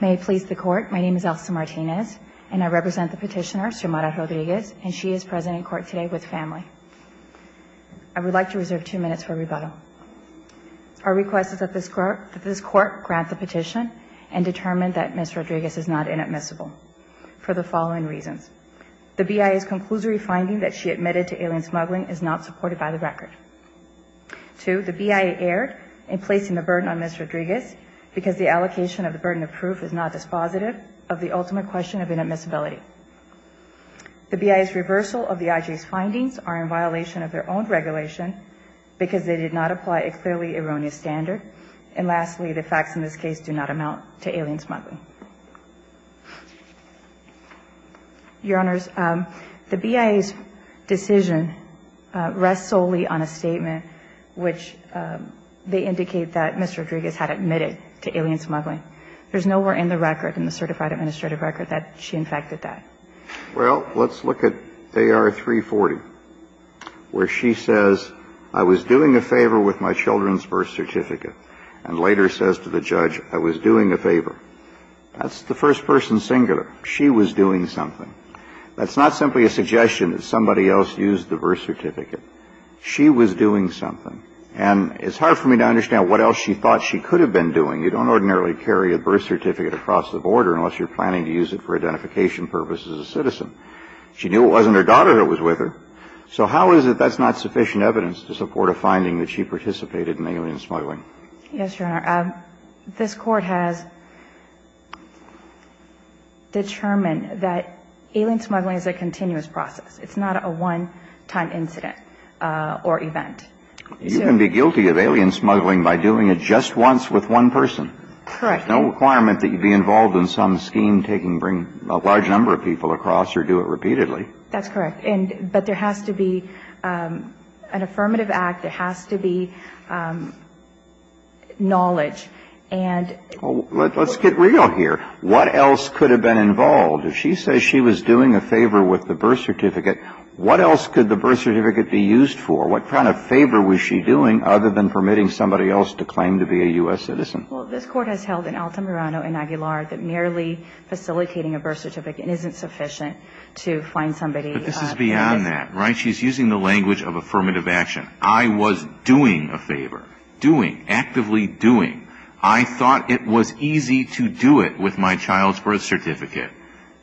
May it please the court, my name is Elsa Martinez and I represent the petitioner, Xiomara Rodriguez, and she is present in court today with family. I would like to reserve two minutes for rebuttal. Our request is that this court grant the petition and determine that Ms. Rodriguez is not inadmissible for the following reasons. The BIA's conclusory finding that she admitted to alien smuggling is not supported by the record. Two, the BIA erred in placing the burden on Ms. Rodriguez because the allocation of the burden of proof is not dispositive of the ultimate question of inadmissibility. The BIA's reversal of the IJ's findings are in violation of their own regulation because they did not apply a clearly erroneous standard. And lastly, the facts in this case do not amount to alien smuggling. Your Honors, the BIA's decision rests solely on a statement which they indicate that Ms. Rodriguez admitted to alien smuggling. There's nowhere in the record, in the certified administrative record, that she in fact did that. Well, let's look at AR 340, where she says, I was doing a favor with my children's birth certificate, and later says to the judge, I was doing a favor. That's the first person singular. She was doing something. That's not simply a suggestion that somebody else used the birth certificate. She was doing something. And it's hard for me to understand what else she thought she could have been doing. You don't ordinarily carry a birth certificate across the border unless you're planning to use it for identification purposes as a citizen. She knew it wasn't her daughter who was with her. So how is it that's not sufficient evidence to support a finding that she participated in alien smuggling? Yes, Your Honor. This Court has determined that alien smuggling is a continuous process. It's not a one-time incident or event. You can be guilty of alien smuggling by doing it just once with one person. Correct. There's no requirement that you be involved in some scheme, taking a large number of people across, or do it repeatedly. That's correct. But there has to be an affirmative act. There has to be knowledge. Let's get real here. What else could have been involved? If she says she was doing a favor with the birth certificate, what else could the birth certificate be used for? What kind of favor was she doing other than permitting somebody else to claim to be a U.S. citizen? Well, this Court has held in Altamirano and Aguilar that merely facilitating a birth certificate isn't sufficient to find somebody. But this is beyond that, right? She's using the language of affirmative action. I was doing a favor. Doing. Actively doing. I thought it was easy to do it with my child's birth certificate.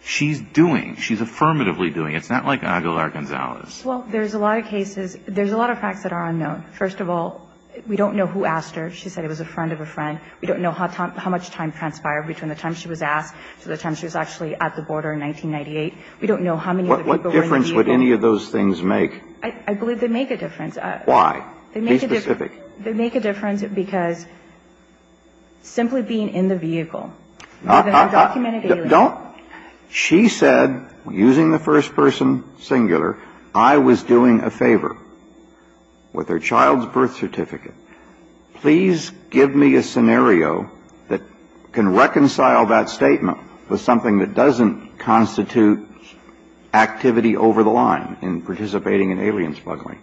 She's doing. She's affirmatively doing. It's not like Aguilar-Gonzalez. Well, there's a lot of cases. There's a lot of facts that are unknown. First of all, we don't know who asked her. She said it was a friend of a friend. We don't know how much time transpired between the time she was asked to the time she was actually at the border in 1998. We don't know how many of the people were in the vehicle. What difference would any of those things make? I believe they make a difference. Why? Be specific. They make a difference because simply being in the vehicle. I don't. She said, using the first person singular, I was doing a favor with her child's birth certificate. Please give me a scenario that can reconcile that statement with something that doesn't constitute activity over the line in participating in alien smuggling.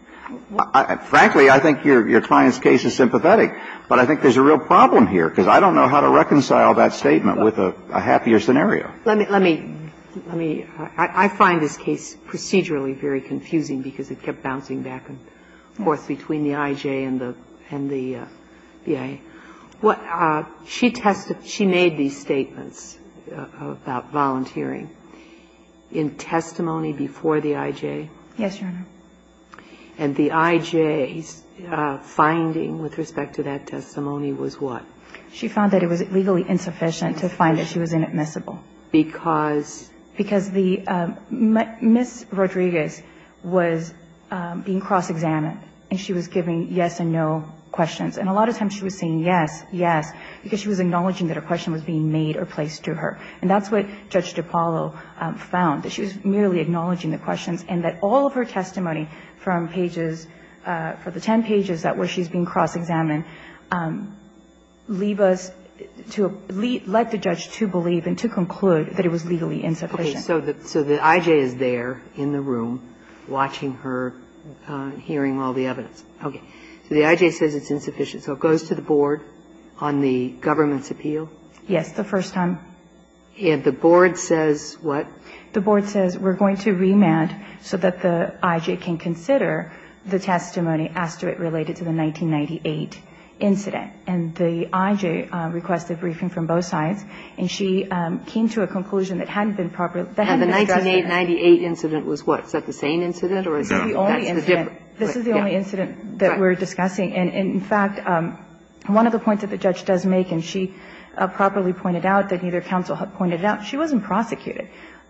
Frankly, I think your client's case is sympathetic, but I think there's a real problem here because I don't know how to reconcile that statement with a happier scenario. Let me, let me, let me, I find this case procedurally very confusing because it kept bouncing back and forth between the I.J. and the, and the B.I.A. What, she tested, she made these statements about volunteering in testimony before the I.J. Yes, Your Honor. And the I.J.'s finding with respect to that testimony was what? She found that it was legally insufficient to find that she was inadmissible. Because? Because the, Ms. Rodriguez was being cross-examined and she was giving yes and no questions. And a lot of times she was saying yes, yes, because she was acknowledging that a question was being made or placed to her. And that's what Judge DiPaolo found, that she was merely acknowledging the questions and that all of her testimony from pages, for the 10 pages that where she's being cross-examined, leave us to, led the judge to believe and to conclude that it was legally insufficient. Okay. So the, so the I.J. is there in the room watching her, hearing all the evidence. Okay. So the I.J. says it's insufficient. So it goes to the board on the government's appeal? Yes, the first time. And the board says what? The board says we're going to remand so that the I.J. can consider the testimony as to it related to the 1998 incident. And the I.J. requested a briefing from both sides, and she came to a conclusion that hadn't been properly, that hadn't been structured. And the 1998 incident was what? Is that the same incident or is it a different? This is the only incident that we're discussing. And in fact, one of the points that the judge does make, and she properly pointed out that neither counsel had pointed out, she wasn't prosecuted.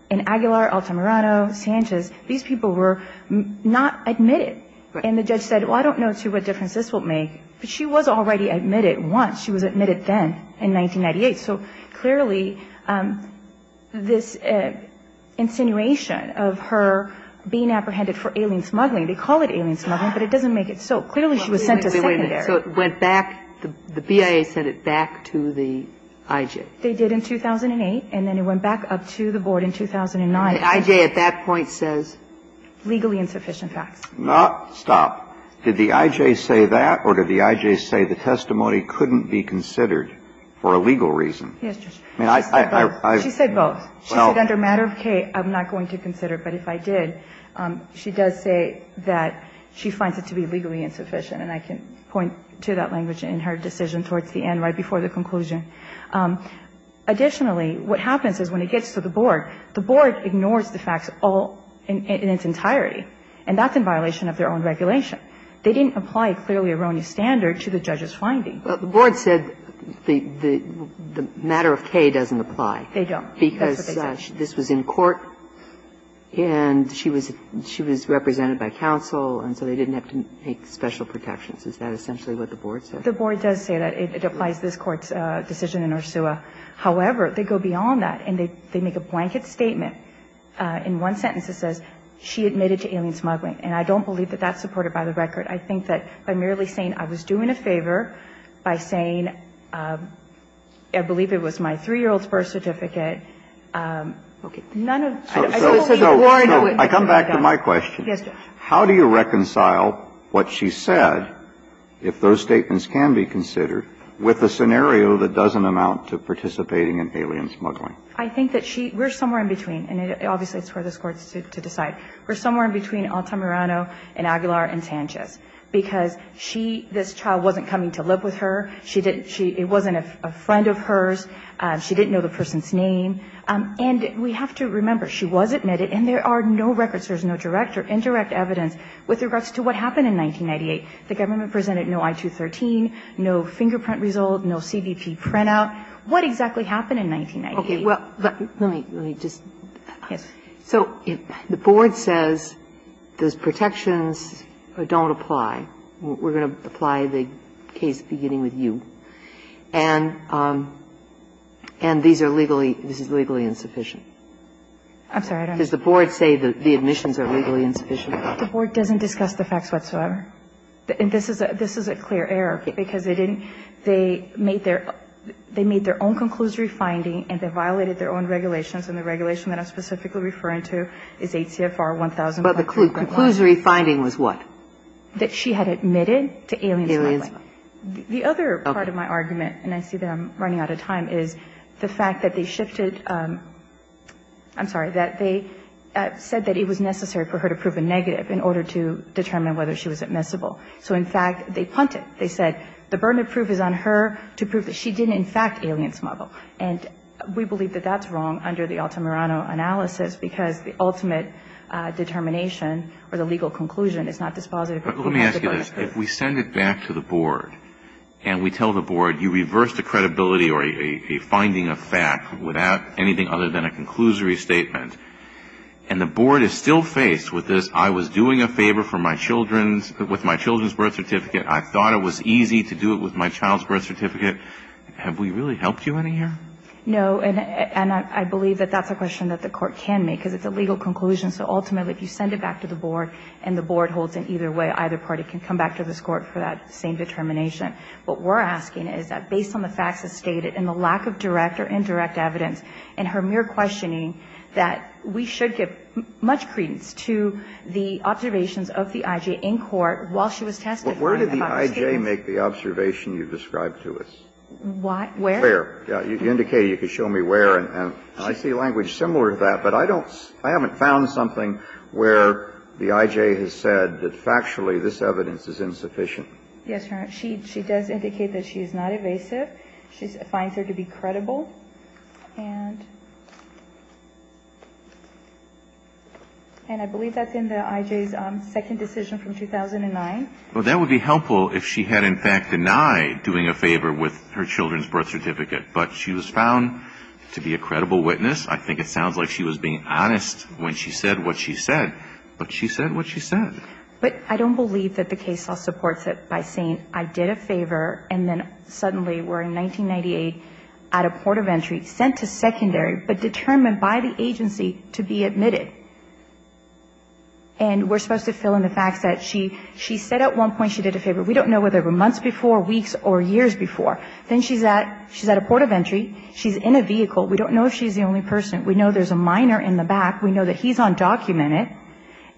In Aguilar, Altamirano, Sanchez, these people were not admitted. And the judge said, well, I don't know, too, what difference this will make. But she was already admitted once. She was admitted then in 1998. So clearly, this insinuation of her being apprehended for alien smuggling, they call it alien smuggling, but it doesn't make it so. Clearly, she was sent to secondary. Wait a minute. So it went back, the BIA sent it back to the I.J.? They did in 2008, and then it went back up to the board in 2009. And the I.J. at that point says? Legally insufficient facts. Stop. Did the I.J. say that or did the I.J. say the testimony couldn't be considered for a legal reason? Yes, Justice. She said both. She said both. She said under matter of case, I'm not going to consider it. But if I did, she does say that she finds it to be legally insufficient. And I can point to that language in her decision towards the end, right before the conclusion. Additionally, what happens is when it gets to the board, the board ignores the facts all in its entirety, and that's in violation of their own regulation. They didn't apply a clearly erroneous standard to the judge's finding. But the board said the matter of case doesn't apply. They don't. Because this was in court and she was represented by counsel, and so they didn't have to make special protections. Is that essentially what the board said? The board does say that it applies this Court's decision in Ursua. However, they go beyond that and they make a blanket statement in one sentence that says, she admitted to alien smuggling. And I don't believe that that's supported by the record. I think that by merely saying I was doing a favor, by saying I believe it was my 3-year-old's birth certificate, none of it. I don't believe the board knew it. So I come back to my question. Yes, Judge. How do you reconcile what she said, if those statements can be considered, with a scenario that doesn't amount to participating in alien smuggling? I think that she we're somewhere in between, and obviously it's for this Court to decide. We're somewhere in between Altamirano and Aguilar and Sanchez, because she, this child wasn't coming to live with her. She didn't, she, it wasn't a friend of hers. She didn't know the person's name. And we have to remember, she was admitted and there are no records, there's no direct evidence, with regards to what happened in 1998. The government presented no I-213, no fingerprint result, no CBP printout. What exactly happened in 1998? Okay, well, let me, let me just, so the board says those protections don't apply. We're going to apply the case beginning with you, and these are legally, this is legally insufficient. I'm sorry, I don't understand. Does the board say that the admissions are legally insufficient? The board doesn't discuss the facts whatsoever. And this is a, this is a clear error, because they didn't, they made their, they made their own conclusory finding and they violated their own regulations, and the regulation that I'm specifically referring to is ACFR 1000. But the conclusory finding was what? That she had admitted to alien smuggling. The other part of my argument, and I see that I'm running out of time, is the fact that they shifted, I'm sorry, that they said that it was necessary for her to prove a negative in order to determine whether she was admissible. So, in fact, they punted. They said the burden of proof is on her to prove that she did, in fact, alien smuggle. And we believe that that's wrong under the Altamirano analysis, because the ultimate determination or the legal conclusion is not dispositive. But let me ask you this. If we send it back to the board and we tell the board, you reversed the credibility or a finding of fact without anything other than a conclusory statement, and the board is still faced with this, I was doing a favor for my children's with my children's birth certificate, I thought it was easy to do it with my child's birth certificate, have we really helped you any here? No, and I believe that that's a question that the Court can make, because it's a legal conclusion. So ultimately, if you send it back to the board and the board holds it either way, either party can come back to this Court for that same determination. And I think that's a question that the Court can make, because it's a legal conclusion. And we believe that that's a question that the Court can make, because it's a legal conclusion. But we're asking is that based on the facts as stated and the lack of direct or indirect evidence and her mere questioning, that we should give much credence to the observations of the I.J. in court while she was testifying about her statements. But where did the I.J. make the observation you described to us? Why? Where? Where? You indicated you could show me where, and I see language similar to that. But I don't see – I haven't found something where the I.J. has said that factually this evidence is insufficient. Yes, Your Honor. She does indicate that she is not evasive. She finds her to be credible. And I believe that's in the I.J.'s second decision from 2009. Well, that would be helpful if she had in fact denied doing a favor with her children's birth certificate. But she was found to be a credible witness. I think it sounds like she was being honest when she said what she said, but she said what she said. But I don't believe that the case law supports it by saying I did a favor and then suddenly we're in 1998 at a port of entry, sent to secondary, but determined by the agency to be admitted. And we're supposed to fill in the facts that she said at one point she did a favor. We don't know whether it was months before, weeks or years before. Then she's at a port of entry. She's in a vehicle. We don't know if she's the only person. We know there's a minor in the back. We know that he's undocumented.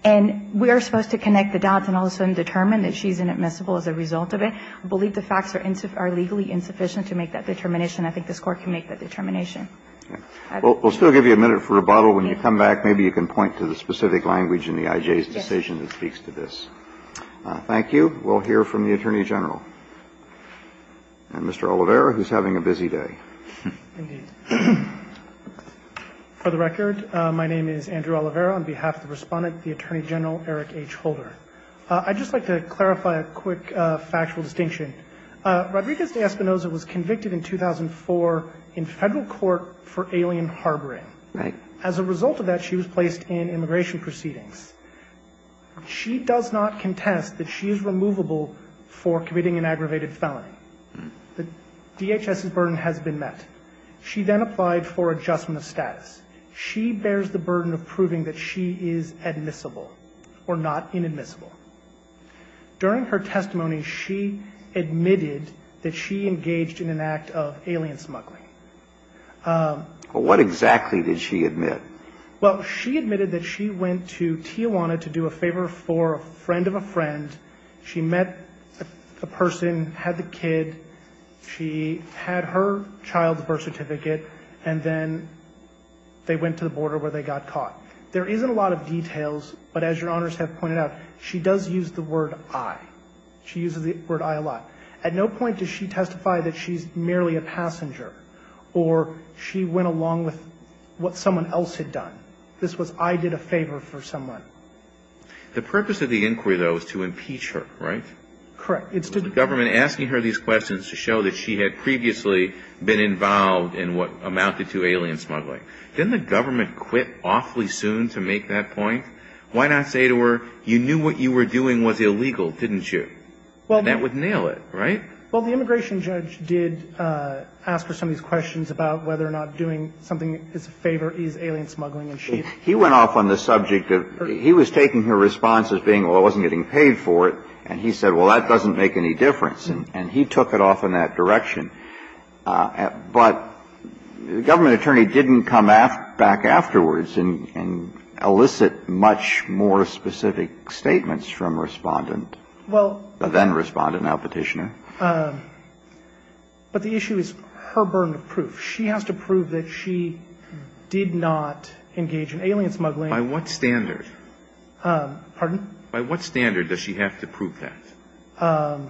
And we are supposed to connect the dots and all of a sudden determine that she's inadmissible as a result of it. I believe the facts are legally insufficient to make that determination. I think this Court can make that determination. I think. We'll still give you a minute for rebuttal. When you come back, maybe you can point to the specific language in the I.J.'s decision that speaks to this. Thank you. We'll hear from the Attorney General. And Mr. Oliveira, who's having a busy day. Indeed. For the record, my name is Andrew Oliveira. On behalf of the Respondent, the Attorney General, Eric H. Holder. I'd just like to clarify a quick factual distinction. Rodriguez de Espinoza was convicted in 2004 in Federal court for alien harboring. Right. As a result of that, she was placed in immigration proceedings. She does not contest that she is removable for committing an aggravated felony. The DHS's burden has been met. She then applied for adjustment of status. She bears the burden of proving that she is admissible or not inadmissible. During her testimony, she admitted that she engaged in an act of alien smuggling. What exactly did she admit? Well, she admitted that she went to Tijuana to do a favor for a friend of a friend. She met a person, had the kid. She had her child's birth certificate. And then they went to the border where they got caught. There isn't a lot of details. But as your honors have pointed out, she does use the word I. She uses the word I a lot. At no point does she testify that she's merely a passenger. Or she went along with what someone else had done. This was I did a favor for someone. The purpose of the inquiry, though, is to impeach her, right? Correct. It's to the government asking her these questions to show that she had previously been involved in what amounted to alien smuggling. Didn't the government quit awfully soon to make that point? Why not say to her, you knew what you were doing was illegal, didn't you? Well, that would nail it, right? Well, the immigration judge did ask her some of these questions about whether or not doing something in his favor is alien smuggling. And she He went off on the subject of he was taking her response as being, well, I wasn't getting paid for it. And he said, well, that doesn't make any difference. And he took it off in that direction. But the government attorney didn't come back afterwards and elicit much more specific statements from respondent. Well, then respondent, now petitioner. But the issue is her burden of proof. She has to prove that she did not engage in alien smuggling. By what standard? Pardon? By what standard does she have to prove that?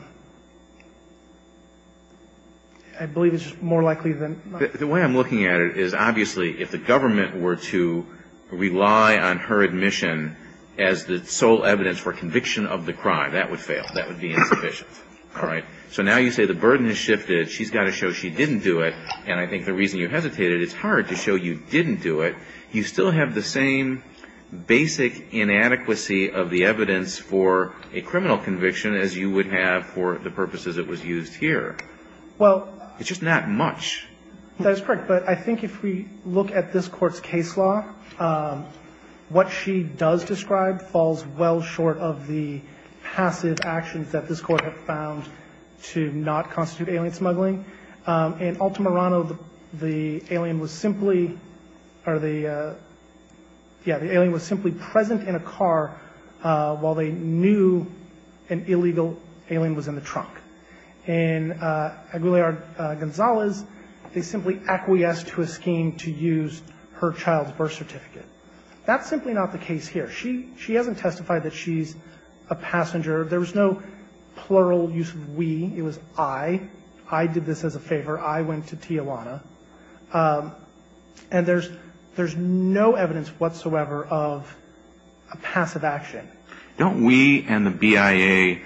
I believe it's more likely than not. The way I'm looking at it is, obviously, if the government were to rely on her admission as the sole evidence for conviction of the crime, that would fail. That would be insufficient, all right? So now you say the burden has shifted. She's got to show she didn't do it. And I think the reason you hesitated, it's hard to show you didn't do it. You still have the same basic inadequacy of the evidence for a criminal conviction as you would have for the purposes it was used here. Well- It's just not much. That's correct, but I think if we look at this court's case law, what she does describe falls well short of the passive actions that this court had found to not constitute alien smuggling. In Altamirano, the alien was simply, or the, yeah, the alien was simply present in a car while they knew an illegal alien was in the trunk. In Aguilar-Gonzalez, they simply acquiesced to a scheme to use her child's birth certificate. That's simply not the case here. She hasn't testified that she's a passenger. There was no plural use of we. It was I. I did this as a favor. I went to Tijuana. And there's no evidence whatsoever of a passive action. Don't we and the BIA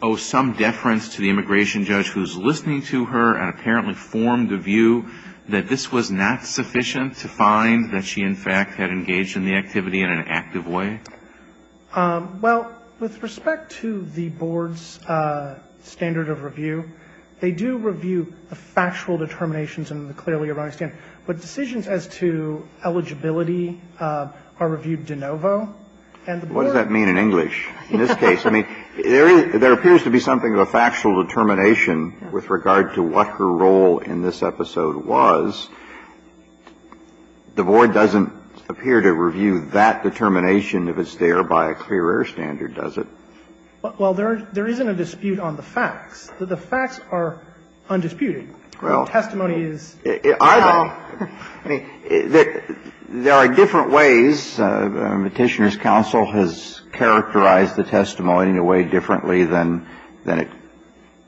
owe some deference to the immigration judge who's listening to her and apparently formed a view that this was not sufficient to find that she, in fact, had engaged in the activity in an active way? Well, with respect to the board's standard of review, they do review the factual determinations and the clearly erroneous standard. But decisions as to eligibility are reviewed de novo and the board- What does that mean in English? In this case, I mean, there appears to be something of a factual determination with regard to what her role in this episode was. The board doesn't appear to review that determination if it's there by a clear error standard, does it? Well, there isn't a dispute on the facts. The facts are undisputed. Well- The testimony is- I mean, there are different ways. The Petitioner's counsel has characterized the testimony in a way differently than it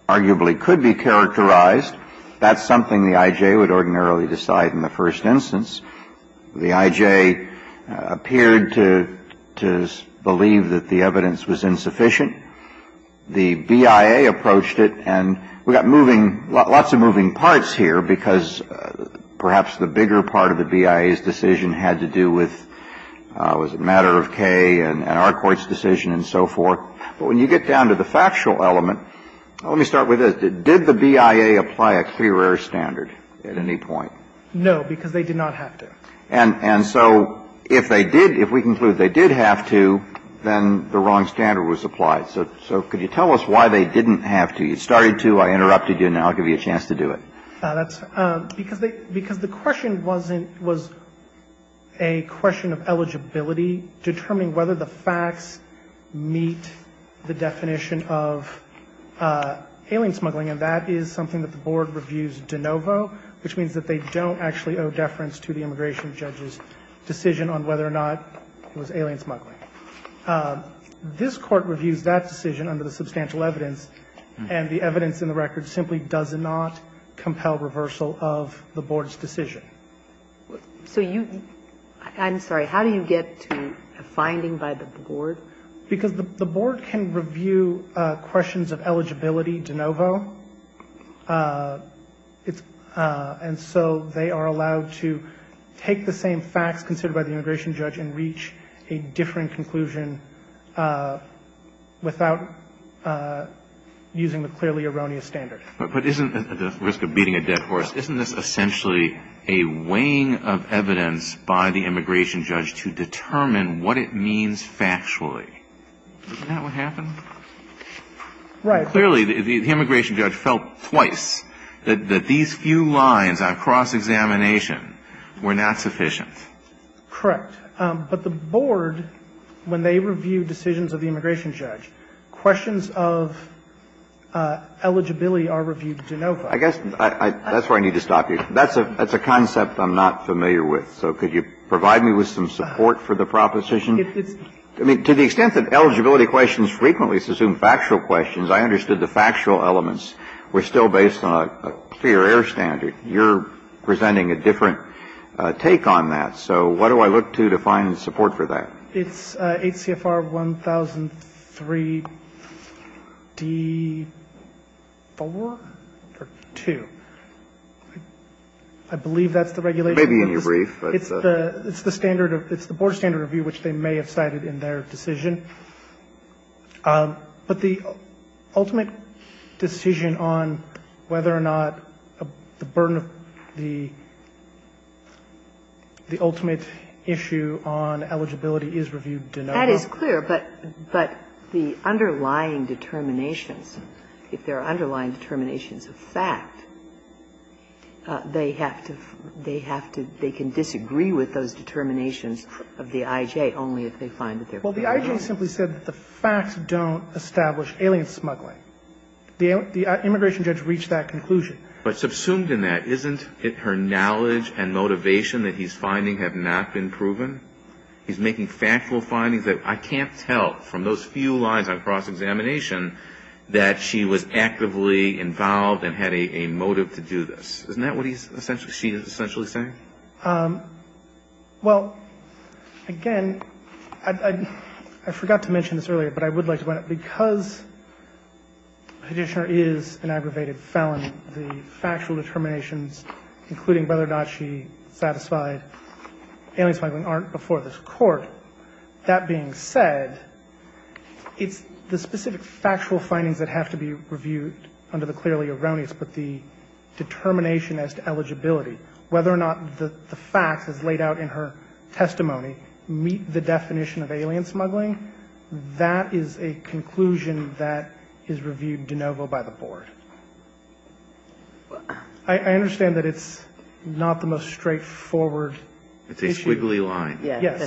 arguably could be characterized. That's something the IJ would ordinarily decide in the first instance. The IJ appeared to believe that the evidence was insufficient. The BIA approached it, and we've got lots of moving parts here because perhaps the bigger part of the BIA's decision had to do with, was it a matter of Kay and our court's decision and so forth. But when you get down to the factual element, let me start with this. Did the BIA apply a clear error standard at any point? No, because they did not have to. And so if they did, if we conclude they did have to, then the wrong standard was applied. So could you tell us why they didn't have to? You started to, I interrupted you, and now I'll give you a chance to do it. Because the question wasn't, was a question of eligibility, determining whether the facts meet the definition of alien smuggling. And that is something that the Board reviews de novo, which means that they don't actually owe deference to the immigration judge's decision on whether or not it was alien smuggling. This Court reviews that decision under the substantial evidence, and the evidence in the record simply does not compel reversal of the Board's decision. So you, I'm sorry, how do you get to a finding by the Board? Because the Board can review questions of eligibility de novo. It's, and so they are allowed to take the same facts considered by the immigration judge and reach a differing conclusion without using the clearly erroneous standard. But isn't, at the risk of beating a dead horse, isn't this essentially a weighing of evidence by the immigration judge to determine what it means factually? Isn't that what happened? Right. Clearly, the immigration judge felt twice that these few lines on cross-examination were not sufficient. Correct. But the Board, when they review decisions of the immigration judge, questions of eligibility are reviewed de novo. I guess that's where I need to stop you. That's a concept I'm not familiar with. So could you provide me with some support for the proposition? I mean, to the extent that eligibility questions frequently assume factual questions, I understood the factual elements were still based on a clear air standard. You're presenting a different take on that. So what do I look to to find support for that? It's 8 CFR 1003-D4 or 2. I believe that's the regulation. Maybe in your brief, but it's the standard of, it's the Board's standard of view, which they may have cited in their decision. But the ultimate decision on whether or not the burden of the ultimate issue on eligibility is reviewed de novo. That is clear. But the underlying determinations, if there are underlying determinations of fact, they have to, they have to, they can disagree with those determinations of the I.J. only if they find that they're proven wrong. Well, the I.J. simply said that the facts don't establish alien smuggling. The immigration judge reached that conclusion. But subsumed in that, isn't it her knowledge and motivation that he's finding have not been proven? He's making factual findings that I can't tell from those few lines on cross-examination that she was actively involved and had a motive to do this. Isn't that what he's essentially, she's essentially saying? Well, again, I forgot to mention this earlier, but I would like to point out, because the petitioner is an aggravated felon, the factual determinations, including whether or not she satisfied alien smuggling, aren't before this Court. That being said, it's the specific factual findings that have to be reviewed under the clearly erroneous, but the determination as to eligibility, whether or not the facts as laid out in her testimony meet the definition of alien smuggling, that is a conclusion that is reviewed de novo by the Board. I understand that it's not the most straightforward issue. It's a squiggly line. Yes.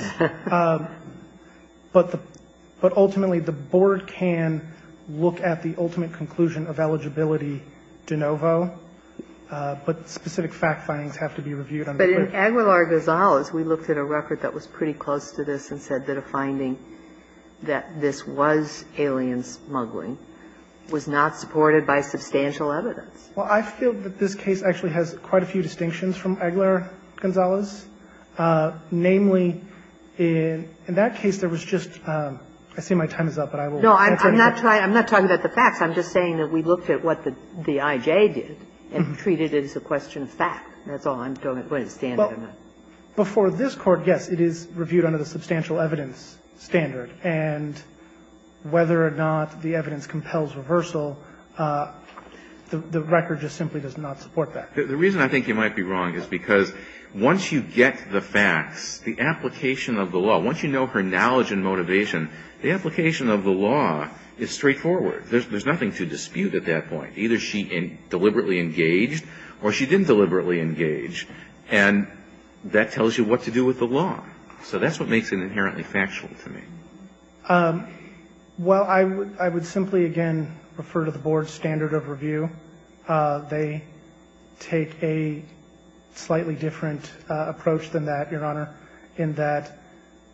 But ultimately, the Board can look at the ultimate conclusion of eligibility de novo, but specific fact findings have to be reviewed. But in Aguilar-Gonzalez, we looked at a record that was pretty close to this and said that a finding that this was alien smuggling was not supported by substantial evidence. Well, I feel that this case actually has quite a few distinctions from Aguilar-Gonzalez. Namely, in that case, there was just – I see my time is up, but I will answer in a minute. No, I'm not talking about the facts. I'm just saying that we looked at what the I.J. did and treated it as a question of fact. That's all I'm going to stand on. But for this Court, yes, it is reviewed under the substantial evidence standard. And whether or not the evidence compels reversal, the record just simply does not support that. The reason I think you might be wrong is because once you get the facts, the application of the law, once you know her knowledge and motivation, the application of the law is straightforward. There's nothing to dispute at that point. Either she deliberately engaged or she didn't deliberately engage. And that tells you what to do with the law. So that's what makes it inherently factual to me. Well, I would simply, again, refer to the Board's standard of review. They take a slightly different approach than that, Your Honor, in that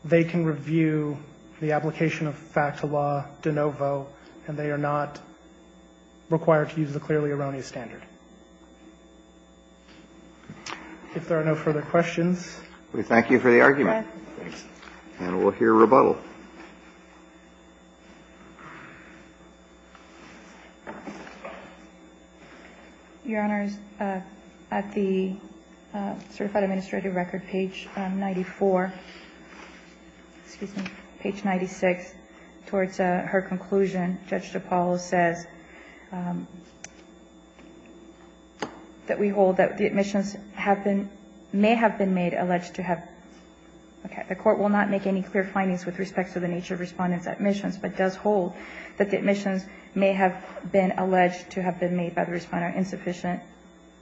they can review the application of fact to law de novo, and they are not required to use the clearly erroneous standard. If there are no further questions, we thank you for the argument. And we'll hear rebuttal. Your Honor, at the certified administrative record, page 94, excuse me, page 96, towards the end of page 94, it says that we hold that the admissions have been, may have been made alleged to have, okay, the Court will not make any clear findings with respect to the nature of Respondent's admissions, but does hold that the admissions may have been alleged to have been made by the Respondent insufficient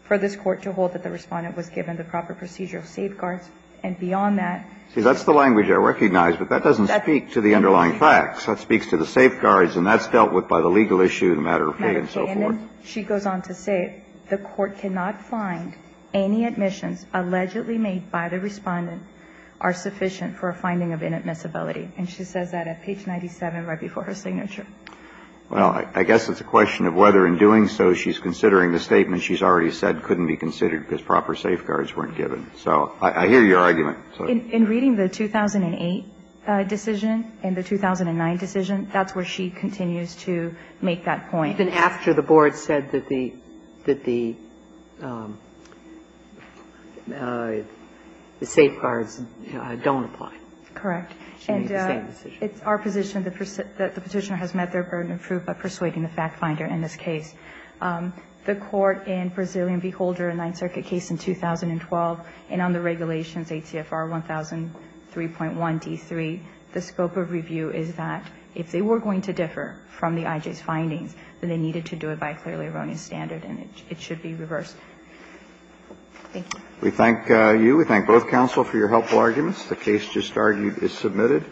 for this Court to hold that the Respondent was given the proper procedure of safeguards. And beyond that, that's the language I recognize, but that doesn't speak to the underlying facts. That speaks to the safeguards, and that's dealt with by the legal issue, the matter of fee, and so forth. She goes on to say the Court cannot find any admissions allegedly made by the Respondent are sufficient for a finding of inadmissibility. And she says that at page 97, right before her signature. Well, I guess it's a question of whether in doing so she's considering the statement she's already said couldn't be considered because proper safeguards weren't given. So I hear your argument. In reading the 2008 decision and the 2009 decision, that's where she continues to make that point. Then after the Board said that the safeguards don't apply. Correct. And it's our position that the Petitioner has met their burden of proof by persuading the fact finder in this case. The Court in Brazilian v. Holder, a Ninth Circuit case in 2012, and on the regulations ATFR 1003.1d3, the scope of review is that if they were going to differ from the I.J.'s findings, then they needed to do it by a clearly erroneous standard, and it should be reversed. Thank you. We thank you. We thank both counsel for your helpful arguments. The case just argued is submitted.